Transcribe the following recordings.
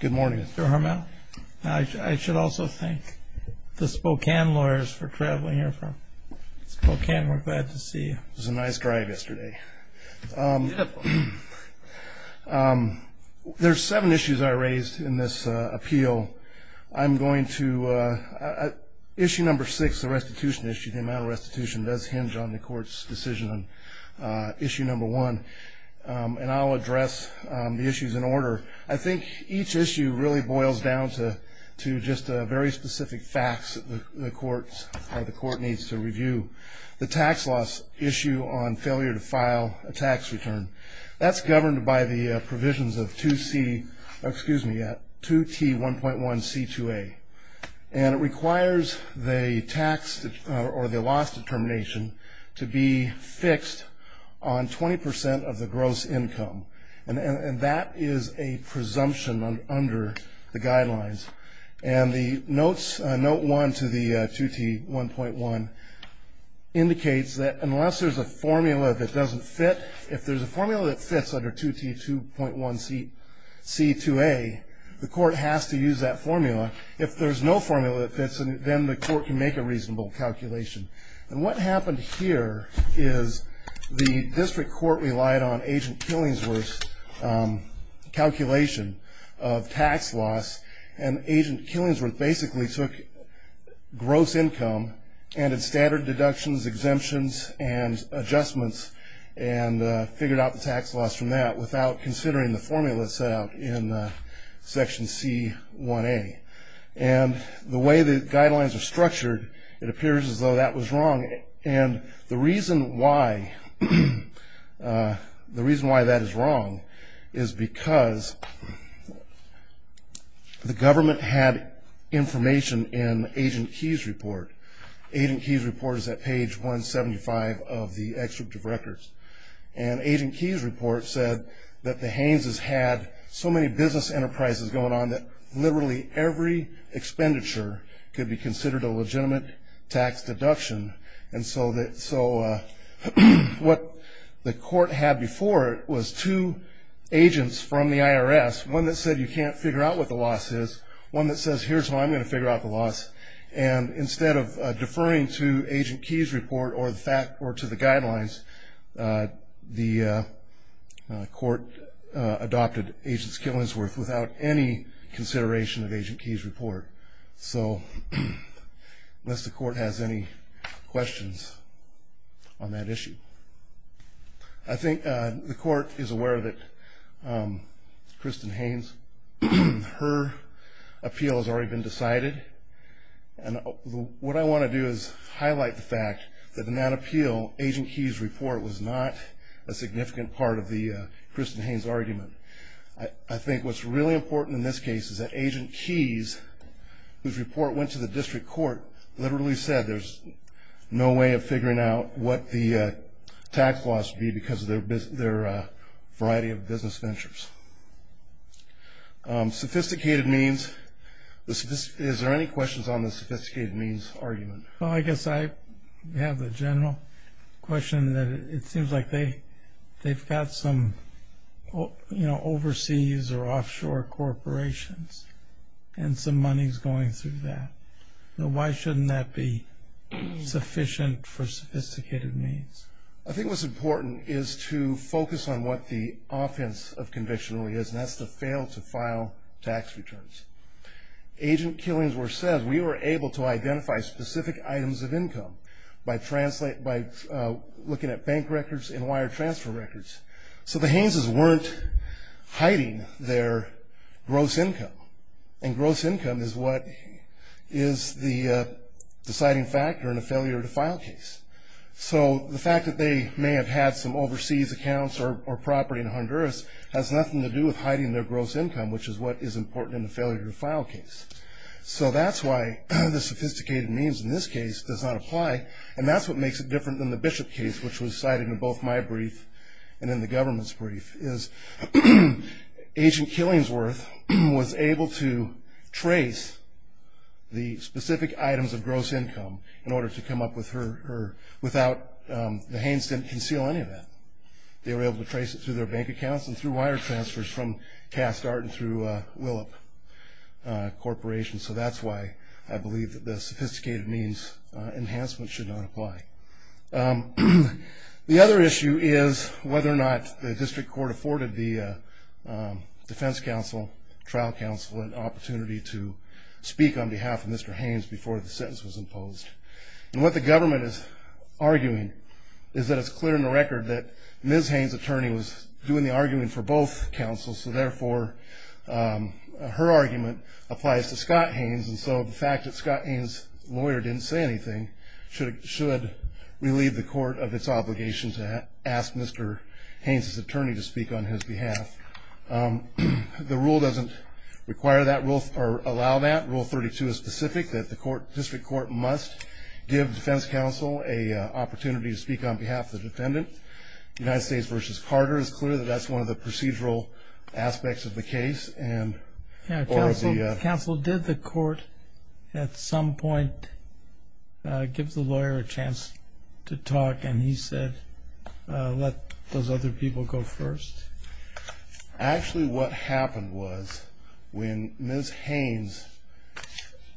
Good morning, Mr. Harmel. I should also thank the Spokane lawyers for traveling here from Spokane. We're glad to see you. It was a nice drive yesterday. Beautiful. There's seven issues I raised in this appeal. Issue number six, the restitution issue, the amount of restitution, does hinge on the court's decision on issue number one. And I'll address the issues in order. I think each issue really boils down to just very specific facts that the court needs to review. The tax loss issue on failure to file a tax return, that's governed by the provisions of 2T1.1C2A. And it requires the loss determination to be fixed on 20% of the gross income. And that is a presumption under the guidelines. And the notes, note one to the 2T1.1, indicates that unless there's a formula that doesn't fit, if there's a formula that fits under 2T2.1C2A, the court has to use that formula. If there's no formula that fits, then the court can make a reasonable calculation. And what happened here is the district court relied on Agent Killingsworth's calculation of tax loss. And Agent Killingsworth basically took gross income and its standard deductions, exemptions, and adjustments, and figured out the tax loss from that without considering the formula set out in Section C1A. And the way the guidelines are structured, it appears as though that was wrong. And the reason why that is wrong is because the government had information in Agent Keyes' report. Agent Keyes' report is at page 175 of the Extractive Records. And Agent Keyes' report said that the Haynes' had so many business enterprises going on that literally every expenditure could be considered a legitimate tax deduction. And so what the court had before it was two agents from the IRS, one that said you can't figure out what the loss is, one that says here's how I'm going to figure out the loss. And instead of deferring to Agent Keyes' report or to the guidelines, the court adopted Agent Killingsworth without any consideration of Agent Keyes' report. So unless the court has any questions on that issue. I think the court is aware of it. Kristen Haynes, her appeal has already been decided. And what I want to do is highlight the fact that in that appeal, Agent Keyes' report was not a significant part of the Kristen Haynes' argument. I think what's really important in this case is that Agent Keyes, whose report went to the district court, literally said there's no way of figuring out what the tax loss would be because of their variety of business ventures. Sophisticated means, is there any questions on the sophisticated means argument? Well, I guess I have the general question that it seems like they've got some overseas or offshore corporations and some money is going through that. Why shouldn't that be sufficient for sophisticated means? I think what's important is to focus on what the offense of conviction really is, and that's to fail to file tax returns. Agent Killingsworth said we were able to identify specific items of income by looking at bank records and wire transfer records. So the Haynes' weren't hiding their gross income. And gross income is what is the deciding factor in a failure to file case. So the fact that they may have had some overseas accounts or property in Honduras has nothing to do with hiding their gross income, which is what is important in a failure to file case. So that's why the sophisticated means in this case does not apply, and that's what makes it different than the Bishop case, which was cited in both my brief and in the government's brief, is Agent Killingsworth was able to trace the specific items of gross income in order to come up with her, without the Haynes' didn't conceal any of that. They were able to trace it through their bank accounts and through wire transfers from Castart and through Willop Corporation. So that's why I believe that the sophisticated means enhancement should not apply. The other issue is whether or not the district court afforded the defense counsel, trial counsel, an opportunity to speak on behalf of Mr. Haynes before the sentence was imposed. And what the government is arguing is that it's clear in the record that Ms. Haynes' attorney was doing the arguing for both counsels, so therefore her argument applies to Scott Haynes, and so the fact that Scott Haynes' lawyer didn't say anything should relieve the court of its obligation to ask Mr. Haynes' attorney to speak on his behalf. The rule doesn't allow that. Rule 32 is specific that the district court must give defense counsel an opportunity to speak on behalf of the defendant. United States v. Carter is clear that that's one of the procedural aspects of the case. Counsel, did the court at some point give the lawyer a chance to talk and he said let those other people go first? Actually what happened was when Ms. Haynes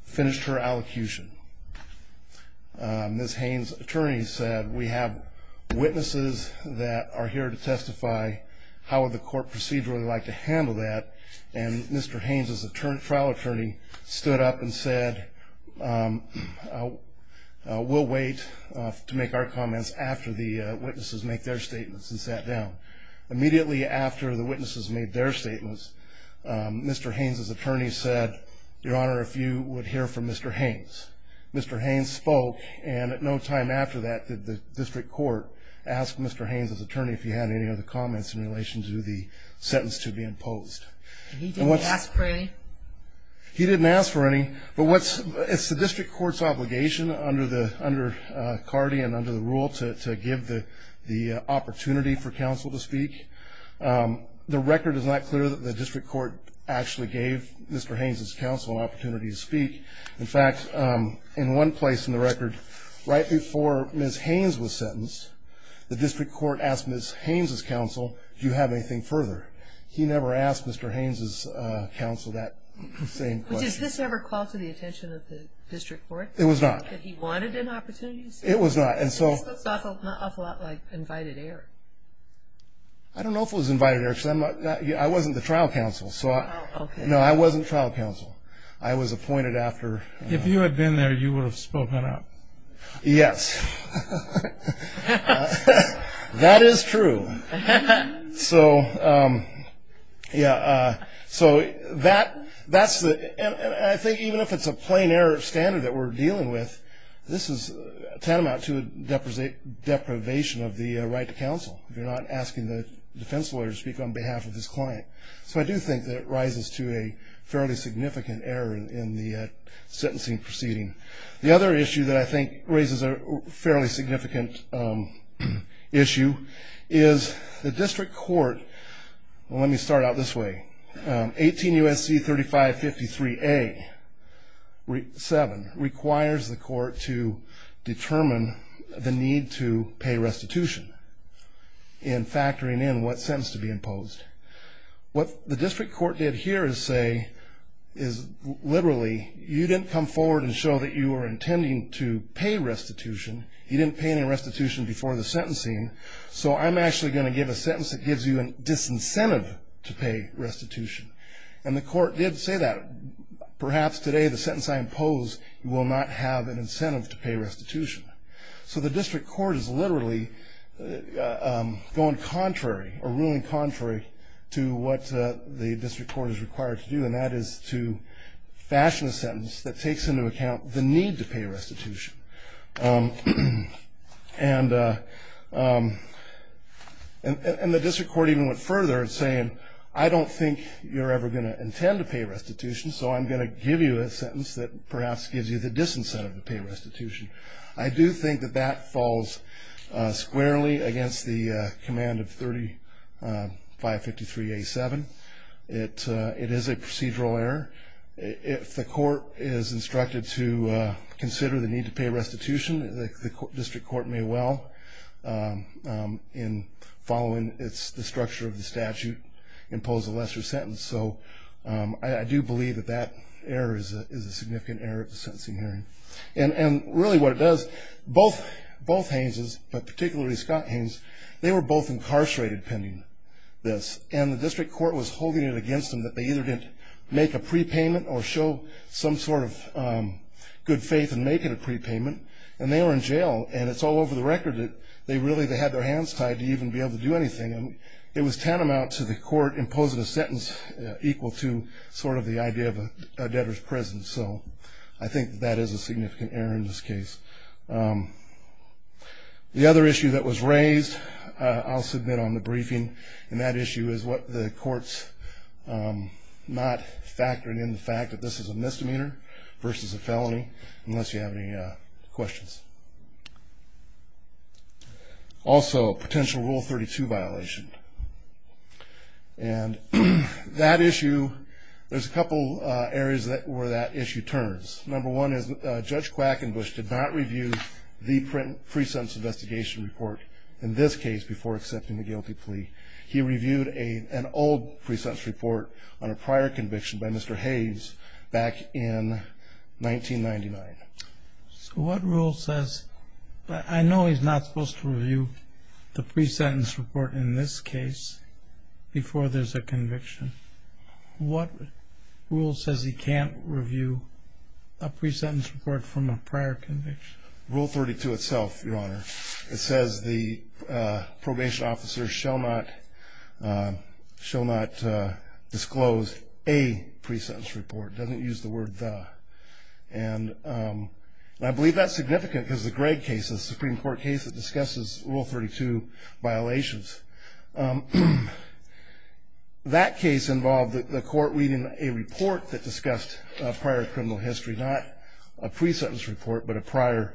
finished her allocution, Ms. Haynes' attorney said we have witnesses that are here to testify how would the court procedurally like to handle that, and Mr. Haynes' trial attorney stood up and said we'll wait to make our comments after the witnesses make their statements and sat down. Immediately after the witnesses made their statements, Mr. Haynes' attorney said, Your Honor, if you would hear from Mr. Haynes. Mr. Haynes spoke, and at no time after that did the district court ask Mr. Haynes' attorney if he had any other comments in relation to the sentence to be imposed. He didn't ask for any? He didn't ask for any, but it's the district court's obligation under CARDI and under the rule to give the opportunity for counsel to speak. The record is not clear that the district court actually gave Mr. Haynes' counsel an opportunity to speak. In fact, in one place in the record, right before Ms. Haynes was sentenced, the district court asked Ms. Haynes' counsel, Do you have anything further? He never asked Mr. Haynes' counsel that same question. Does this ever call to the attention of the district court? It was not. That he wanted an opportunity to speak? It was not. That's an awful lot like invited air. I don't know if it was invited air. I wasn't the trial counsel. No, I wasn't the trial counsel. I was appointed after. If you had been there, you would have spoken up. Yes. That is true. So, yeah, so that's the – and I think even if it's a plain error standard that we're dealing with, this is tantamount to a deprivation of the right to counsel, if you're not asking the defense lawyer to speak on behalf of his client. So I do think that it rises to a fairly significant error in the sentencing proceeding. The other issue that I think raises a fairly significant issue is the district court – well, let me start out this way. 18 U.S.C. 3553A-7 requires the court to determine the need to pay restitution in factoring in what sentence to be imposed. What the district court did here is say is literally, you didn't come forward and show that you were intending to pay restitution. You didn't pay any restitution before the sentencing, so I'm actually going to give a sentence that gives you a disincentive to pay restitution. And the court did say that. Perhaps today the sentence I impose will not have an incentive to pay restitution. So the district court is literally going contrary or ruling contrary to what the district court is required to do, and that is to fashion a sentence that takes into account the need to pay restitution. And the district court even went further in saying, I don't think you're ever going to intend to pay restitution, so I'm going to give you a sentence that perhaps gives you the disincentive to pay restitution. I do think that that falls squarely against the command of 3553-A-7. It is a procedural error. If the court is instructed to consider the need to pay restitution, the district court may well, following the structure of the statute, impose a lesser sentence. So I do believe that that error is a significant error of the sentencing hearing. And really what it does, both Haines's, but particularly Scott Haines's, they were both incarcerated pending this, and the district court was holding it against them that they either didn't make a prepayment or show some sort of good faith in making a prepayment, and they were in jail. And it's all over the record that they really had their hands tied to even be able to do anything. It was tantamount to the court imposing a sentence equal to sort of the idea of a debtor's prison. So I think that is a significant error in this case. The other issue that was raised, I'll submit on the briefing, and that issue is what the court's not factoring in the fact that this is a misdemeanor versus a felony, unless you have any questions. Also, potential Rule 32 violation. And that issue, there's a couple areas where that issue turns. Number one is Judge Quackenbush did not review the pre-sentence investigation report in this case before accepting the guilty plea. He reviewed an old pre-sentence report on a prior conviction by Mr. Haines back in 1999. So what rule says, I know he's not supposed to review the pre-sentence report in this case before there's a conviction. What rule says he can't review a pre-sentence report from a prior conviction? Rule 32 itself, Your Honor. It says the probation officer shall not disclose a pre-sentence report. It doesn't use the word the. And I believe that's significant because the Gregg case is a Supreme Court case that discusses Rule 32 violations. That case involved the court reading a report that discussed prior criminal history, not a pre-sentence report but a prior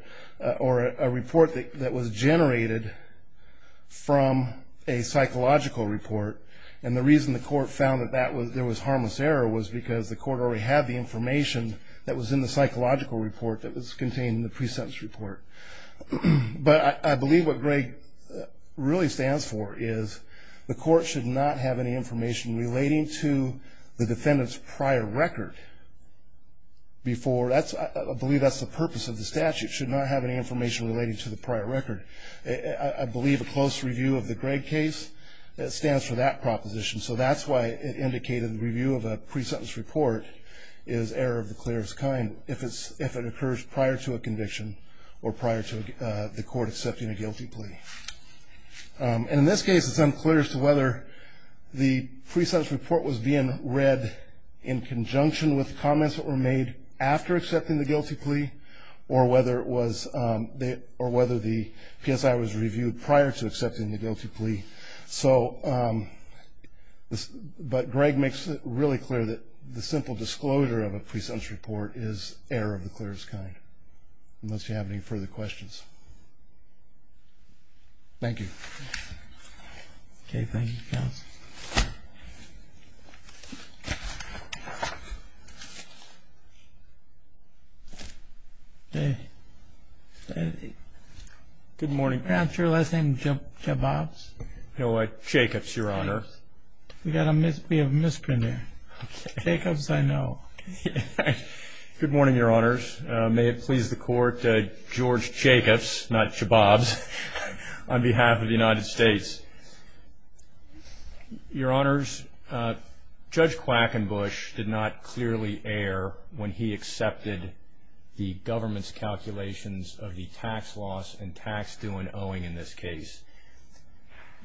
or a report that was generated from a psychological report. And the reason the court found that there was harmless error was because the court already had the information that was in the psychological report that was contained in the pre-sentence report. But I believe what Gregg really stands for is the court should not have any information relating to the defendant's prior record before. I believe that's the purpose of the statute, should not have any information relating to the prior record. I believe a close review of the Gregg case stands for that proposition. So that's why it indicated the review of a pre-sentence report is error of the clearest kind if it occurs prior to a conviction or prior to the court accepting a guilty plea. And in this case, it's unclear as to whether the pre-sentence report was being read in conjunction with comments that were made after accepting the guilty plea or whether the PSI was reviewed prior to accepting the guilty plea. But Gregg makes it really clear that the simple disclosure of a pre-sentence report is error of the clearest kind, unless you have any further questions. Thank you. Okay, thank you, counsel. Good morning. Perhaps your last name is Jacobs? No, Jacobs, Your Honor. We have a misprint there. Jacobs, I know. Good morning, Your Honors. May it please the Court, George Jacobs, not Shababs, on behalf of the United States. Your Honors, Judge Quackenbush did not clearly err when he accepted the government's calculations of the tax loss and tax due and owing in this case.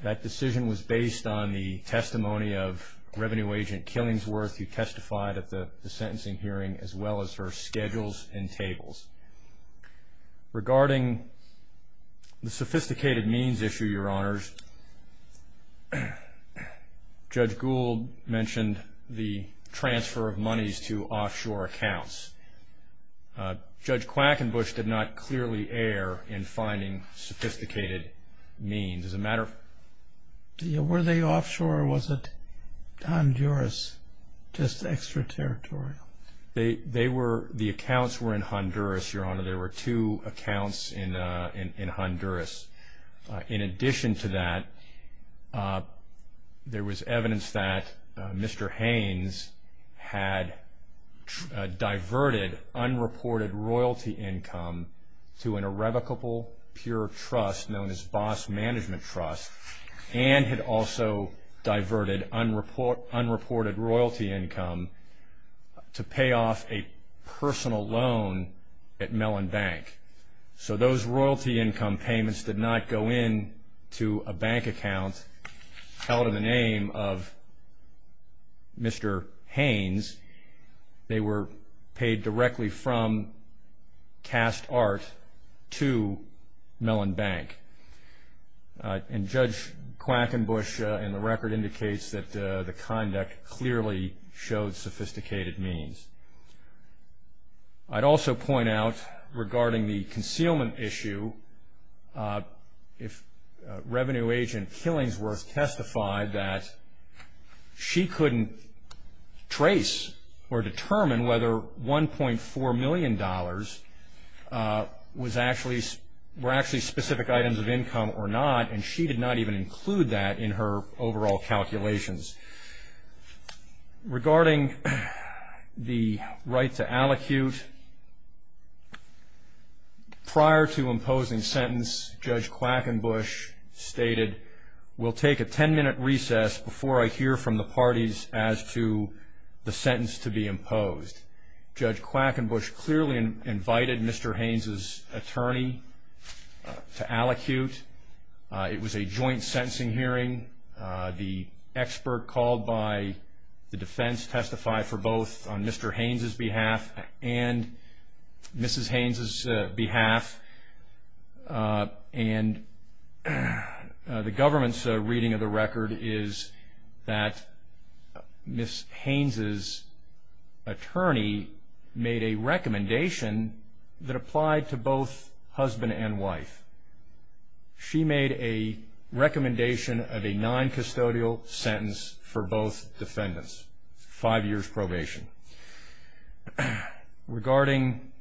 That decision was based on the testimony of Revenue Agent Killingsworth, who testified at the sentencing hearing, as well as her schedules and tables. Regarding the sophisticated means issue, Your Honors, Judge Gould mentioned the transfer of monies to offshore accounts. Judge Quackenbush did not clearly err in finding sophisticated means. Were they offshore or was it Honduras, just extraterritorial? The accounts were in Honduras, Your Honor. There were two accounts in Honduras. In addition to that, there was evidence that Mr. Haynes had diverted unreported royalty income to an irrevocable pure trust known as Boss Management Trust and had also diverted unreported royalty income to pay off a personal loan at Mellon Bank. So those royalty income payments did not go into a bank account held in the name of Mr. Haynes. They were paid directly from cast art to Mellon Bank. And Judge Quackenbush in the record indicates that the conduct clearly showed sophisticated means. I'd also point out regarding the concealment issue, if Revenue Agent Killingsworth testified that she couldn't trace or determine whether $1.4 million were actually specific items of income or not, and she did not even include that in her overall calculations. Regarding the right to allocute, prior to imposing sentence, Judge Quackenbush stated, we'll take a 10-minute recess before I hear from the parties as to the sentence to be imposed. Judge Quackenbush clearly invited Mr. Haynes' attorney to allocute. It was a joint sentencing hearing. The expert called by the defense testified for both on Mr. Haynes' behalf and Mrs. Haynes' behalf. And the government's reading of the record is that Ms. Haynes' attorney made a recommendation that applied to both husband and wife. She made a recommendation of a noncustodial sentence for both defendants, five years probation. Regarding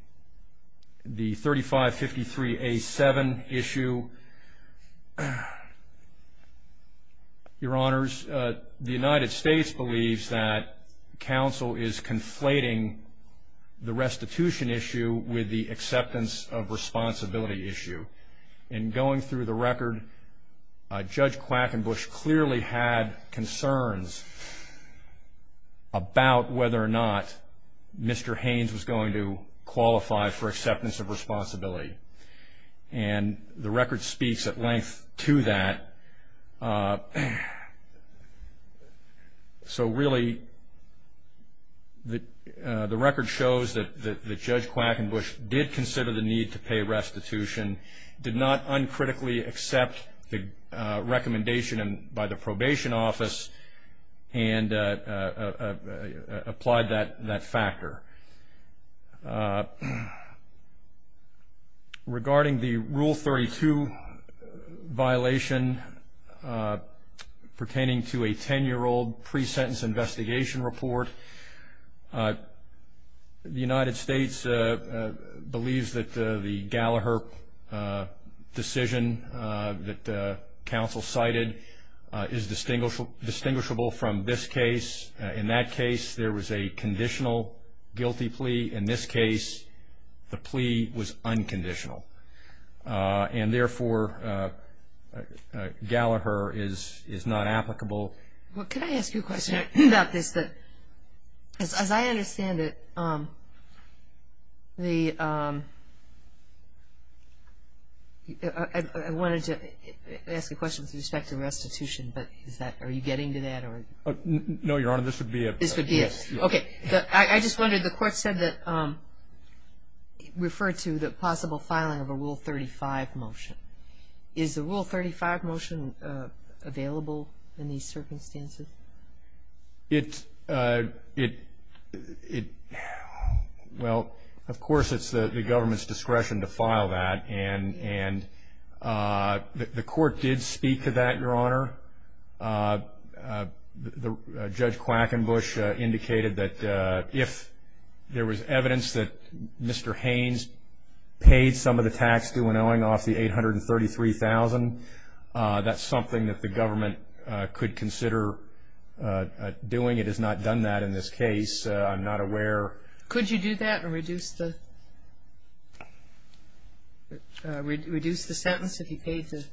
the 3553A7 issue, Your Honors, the United States believes that counsel is conflating the restitution issue with the acceptance of responsibility issue. In going through the record, Judge Quackenbush clearly had concerns about whether or not Mr. Haynes was going to qualify for acceptance of responsibility. And the record speaks at length to that. So really, the record shows that Judge Quackenbush did consider the need to pay restitution, did not uncritically accept the recommendation by the probation office, and applied that factor. Regarding the Rule 32 violation pertaining to a 10-year-old pre-sentence investigation report, the United States believes that the Gallaher decision that counsel cited is distinguishable from this case. In that case, there was a conditional guilty plea. In this case, the plea was unconditional. And therefore, Gallaher is not applicable. Well, can I ask you a question about this? As I understand it, I wanted to ask a question with respect to restitution, but are you getting to that? No, Your Honor. This would be a yes. Okay. I just wondered, the court said that it referred to the possible filing of a Rule 35 motion. Is the Rule 35 motion available in these circumstances? Well, of course it's the government's discretion to file that. And the court did speak to that, Your Honor. Judge Quackenbush indicated that if there was evidence that Mr. Haynes paid some of the tax due and owing off the $833,000, that's something that the government could consider doing. It has not done that in this case. I'm not aware. Could you do that and reduce the sentence if he paid the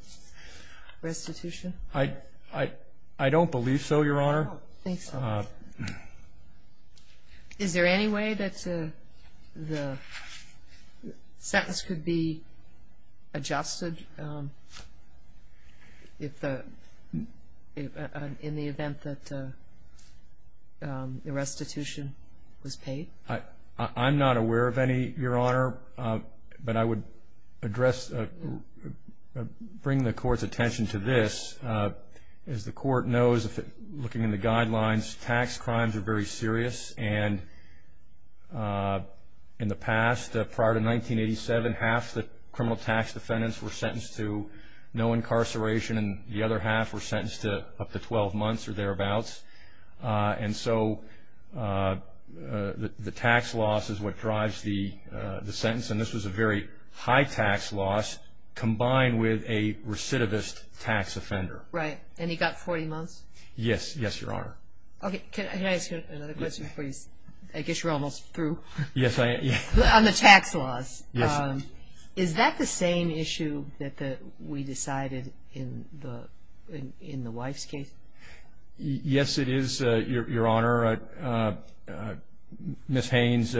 restitution? I don't believe so, Your Honor. I don't think so. Is there any way that the sentence could be adjusted in the event that the restitution was paid? I'm not aware of any, Your Honor, but I would bring the court's attention to this. As the court knows, looking in the guidelines, tax crimes are very serious. And in the past, prior to 1987, half the criminal tax defendants were sentenced to no incarceration and the other half were sentenced to up to 12 months or thereabouts. And so the tax loss is what drives the sentence. And this was a very high tax loss combined with a recidivist tax offender. Right. And he got 40 months? Yes. Yes, Your Honor. Can I ask you another question, please? I guess you're almost through. Yes, I am. On the tax loss. Yes. Is that the same issue that we decided in the wife's case? Yes, it is, Your Honor. Ms. Haynes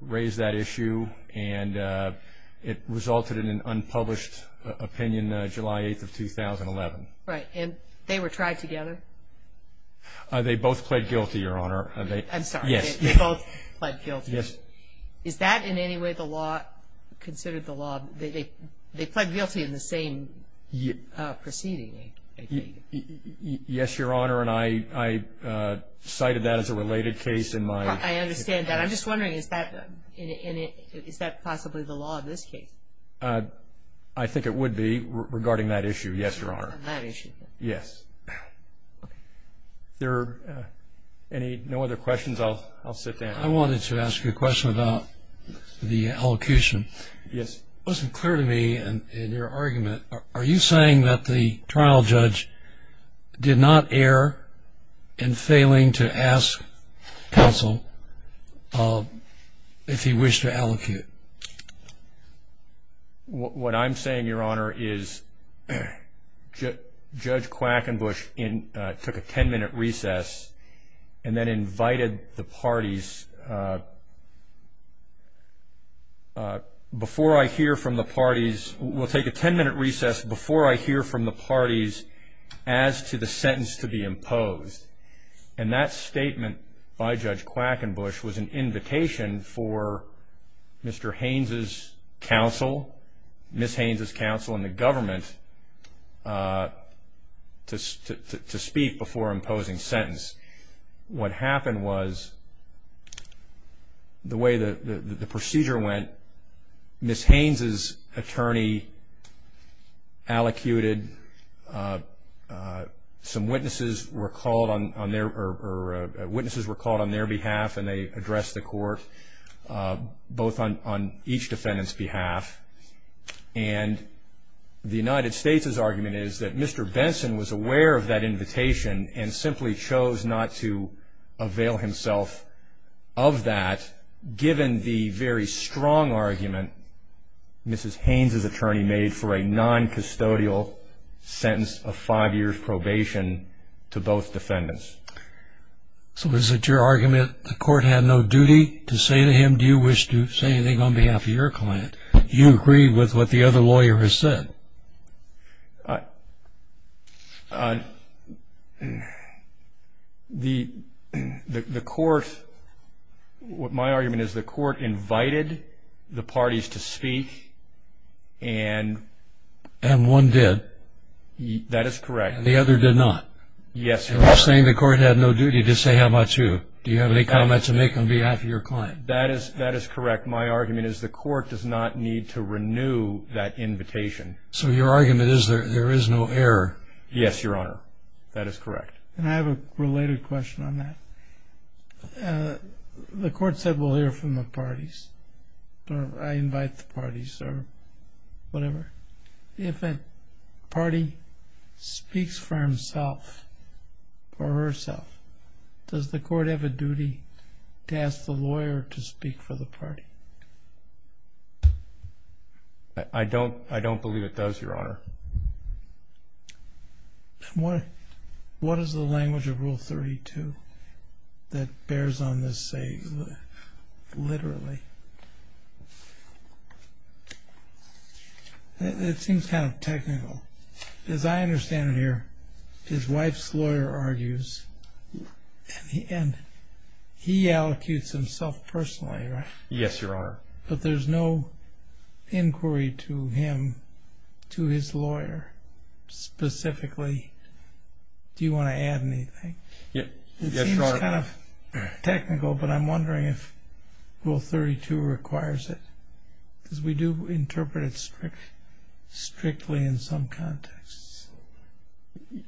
raised that issue and it resulted in an unpublished opinion July 8th of 2011. Right. And they were tried together? They both pled guilty, Your Honor. I'm sorry. Yes. They both pled guilty. Yes. Is that in any way considered the law? They pled guilty in the same proceeding, I think. Yes, Your Honor, and I cited that as a related case in my case. I understand that. I'm just wondering, is that possibly the law in this case? I think it would be regarding that issue, yes, Your Honor. That issue. Yes. Are there no other questions? I'll sit down. I wanted to ask you a question about the elocution. Yes. It wasn't clear to me in your argument, are you saying that the trial judge did not err in failing to ask counsel if he wished to elocute? What I'm saying, Your Honor, is Judge Quackenbush took a ten-minute recess and then invited the parties. Before I hear from the parties, we'll take a ten-minute recess before I hear from the parties as to the sentence to be imposed. And that statement by Judge Quackenbush was an invitation for Mr. Haynes' counsel, Ms. Haynes' counsel and the government to speak before imposing sentence. What happened was, the way the procedure went, Ms. Haynes' attorney elocuted. Some witnesses were called on their behalf and they addressed the court, both on each defendant's behalf. And the United States' argument is that Mr. Benson was aware of that invitation and simply chose not to avail himself of that, given the very strong argument Ms. Haynes' attorney made for a noncustodial sentence of five years probation to both defendants. So is it your argument the court had no duty to say to him, do you wish to say anything on behalf of your client? You agreed with what the other lawyer has said. The court, my argument is the court invited the parties to speak and... And one did. That is correct. And the other did not. Yes, Your Honor. And you're saying the court had no duty to say how about you? Do you have any comments to make on behalf of your client? That is correct. My argument is the court does not need to renew that invitation. So your argument is there is no error. Yes, Your Honor. That is correct. And I have a related question on that. The court said we'll hear from the parties. I invite the parties or whatever. If a party speaks for himself or herself, does the court have a duty to ask the lawyer to speak for the party? I don't believe it does, Your Honor. What is the language of Rule 32 that bears on this, say, literally? It seems kind of technical. As I understand it here, his wife's lawyer argues, and he allocutes himself personally, right? Yes, Your Honor. But there's no inquiry to him, to his lawyer specifically. Do you want to add anything? It seems kind of technical, but I'm wondering if Rule 32 requires it. Because we do interpret it strictly in some contexts.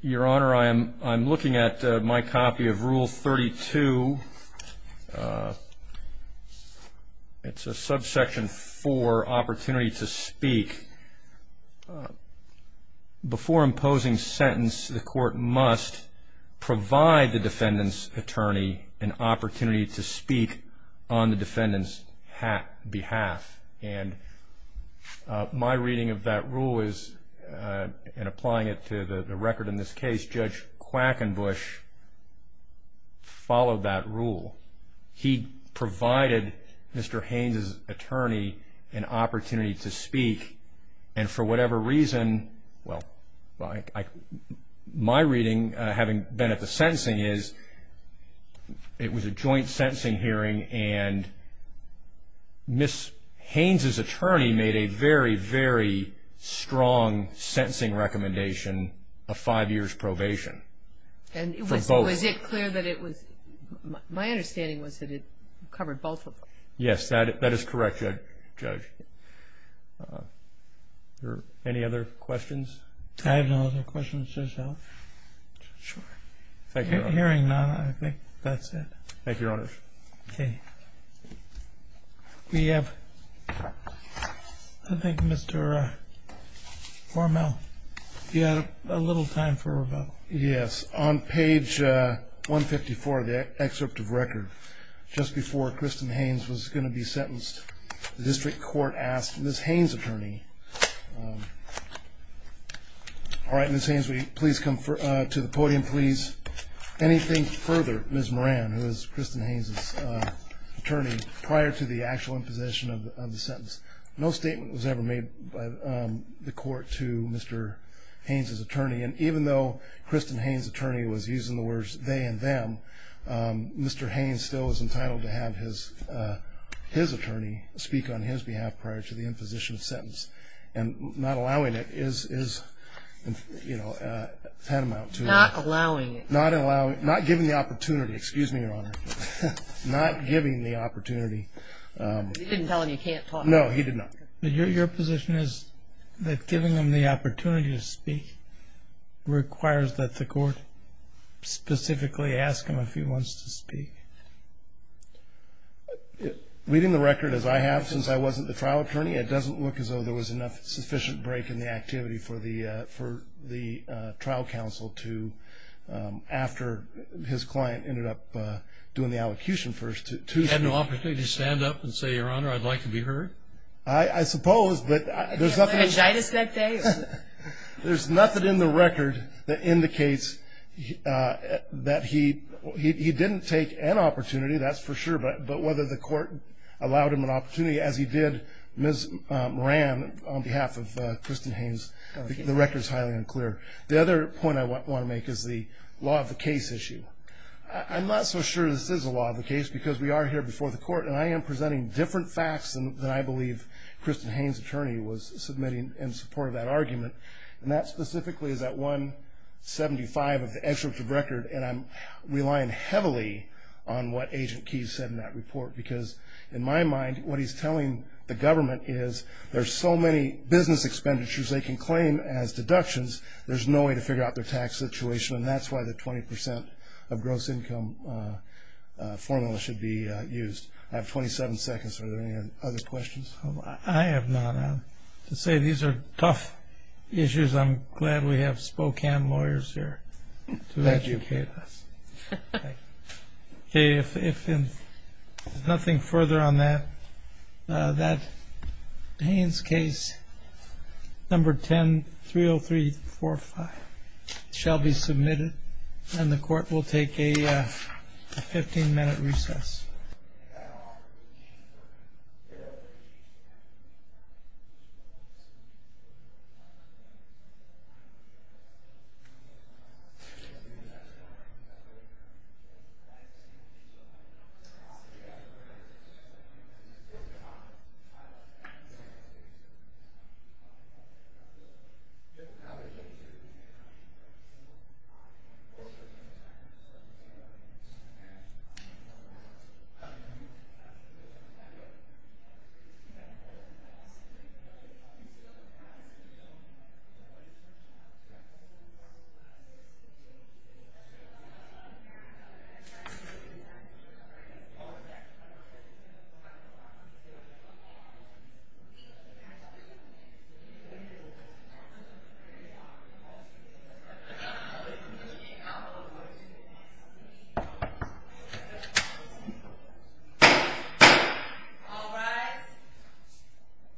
Your Honor, I'm looking at my copy of Rule 32. It's a Subsection 4, Opportunity to Speak. Before imposing sentence, the court must provide the defendant's attorney an opportunity to speak on the defendant's behalf. And my reading of that rule is, and applying it to the record in this case, Judge Quackenbush followed that rule. He provided Mr. Haynes' attorney an opportunity to speak. And for whatever reason, well, my reading, having been at the sentencing, is it was a joint sentencing hearing, and Ms. Haynes' attorney made a very, very strong sentencing recommendation, a five years probation for both. And was it clear that it was, my understanding was that it covered both of them. Yes, that is correct, Judge. Are there any other questions? I have no other questions, Your Honor. Hearing none, I think that's it. Thank you, Your Honor. Okay. We have, I think Mr. Hormel, you had a little time for a rebuttal. Yes. On page 154 of the excerpt of record, just before Kristen Haynes was going to be sentenced, the district court asked Ms. Haynes' attorney, all right, Ms. Haynes, will you please come to the podium, please? Anything further, Ms. Moran, who is Kristen Haynes' attorney, prior to the actual imposition of the sentence, no statement was ever made by the court to Mr. Haynes' attorney. And even though Kristen Haynes' attorney was using the words, they and them, Mr. Haynes still is entitled to have his attorney speak on his behalf prior to the imposition of sentence. And not allowing it is, you know, tantamount to Not allowing it. Not giving the opportunity. Excuse me, Your Honor. Not giving the opportunity. You didn't tell him you can't talk. No, he did not. But your position is that giving him the opportunity to speak requires that the court specifically ask him if he wants to speak. Reading the record as I have since I wasn't the trial attorney, it doesn't look as though there was enough sufficient break in the activity for the trial counsel to, after his client ended up doing the allocution first. He had no opportunity to stand up and say, Your Honor, I'd like to be heard? I suppose, but there's nothing in the record that indicates that he didn't take an opportunity, that's for sure. But whether the court allowed him an opportunity as he did, Ms. Moran, on behalf of Kristen Haynes, the record's highly unclear. The other point I want to make is the law of the case issue. I'm not so sure this is a law of the case because we are here before the court, and I am presenting different facts than I believe Kristen Haynes, attorney, was submitting in support of that argument. And that specifically is at 175 of the excerpt of record, and I'm relying heavily on what Agent Keyes said in that report. Because in my mind, what he's telling the government is, there's so many business expenditures they can claim as deductions, there's no way to figure out their tax situation, and that's why the 20% of gross income formula should be used. I have 27 seconds. Are there any other questions? I have none. To say these are tough issues, I'm glad we have Spokane lawyers here to educate us. Thank you. Okay. If there's nothing further on that, that Haynes case number 10-30345 shall be submitted, and the court will take a 15-minute recess. Thank you. Thank you.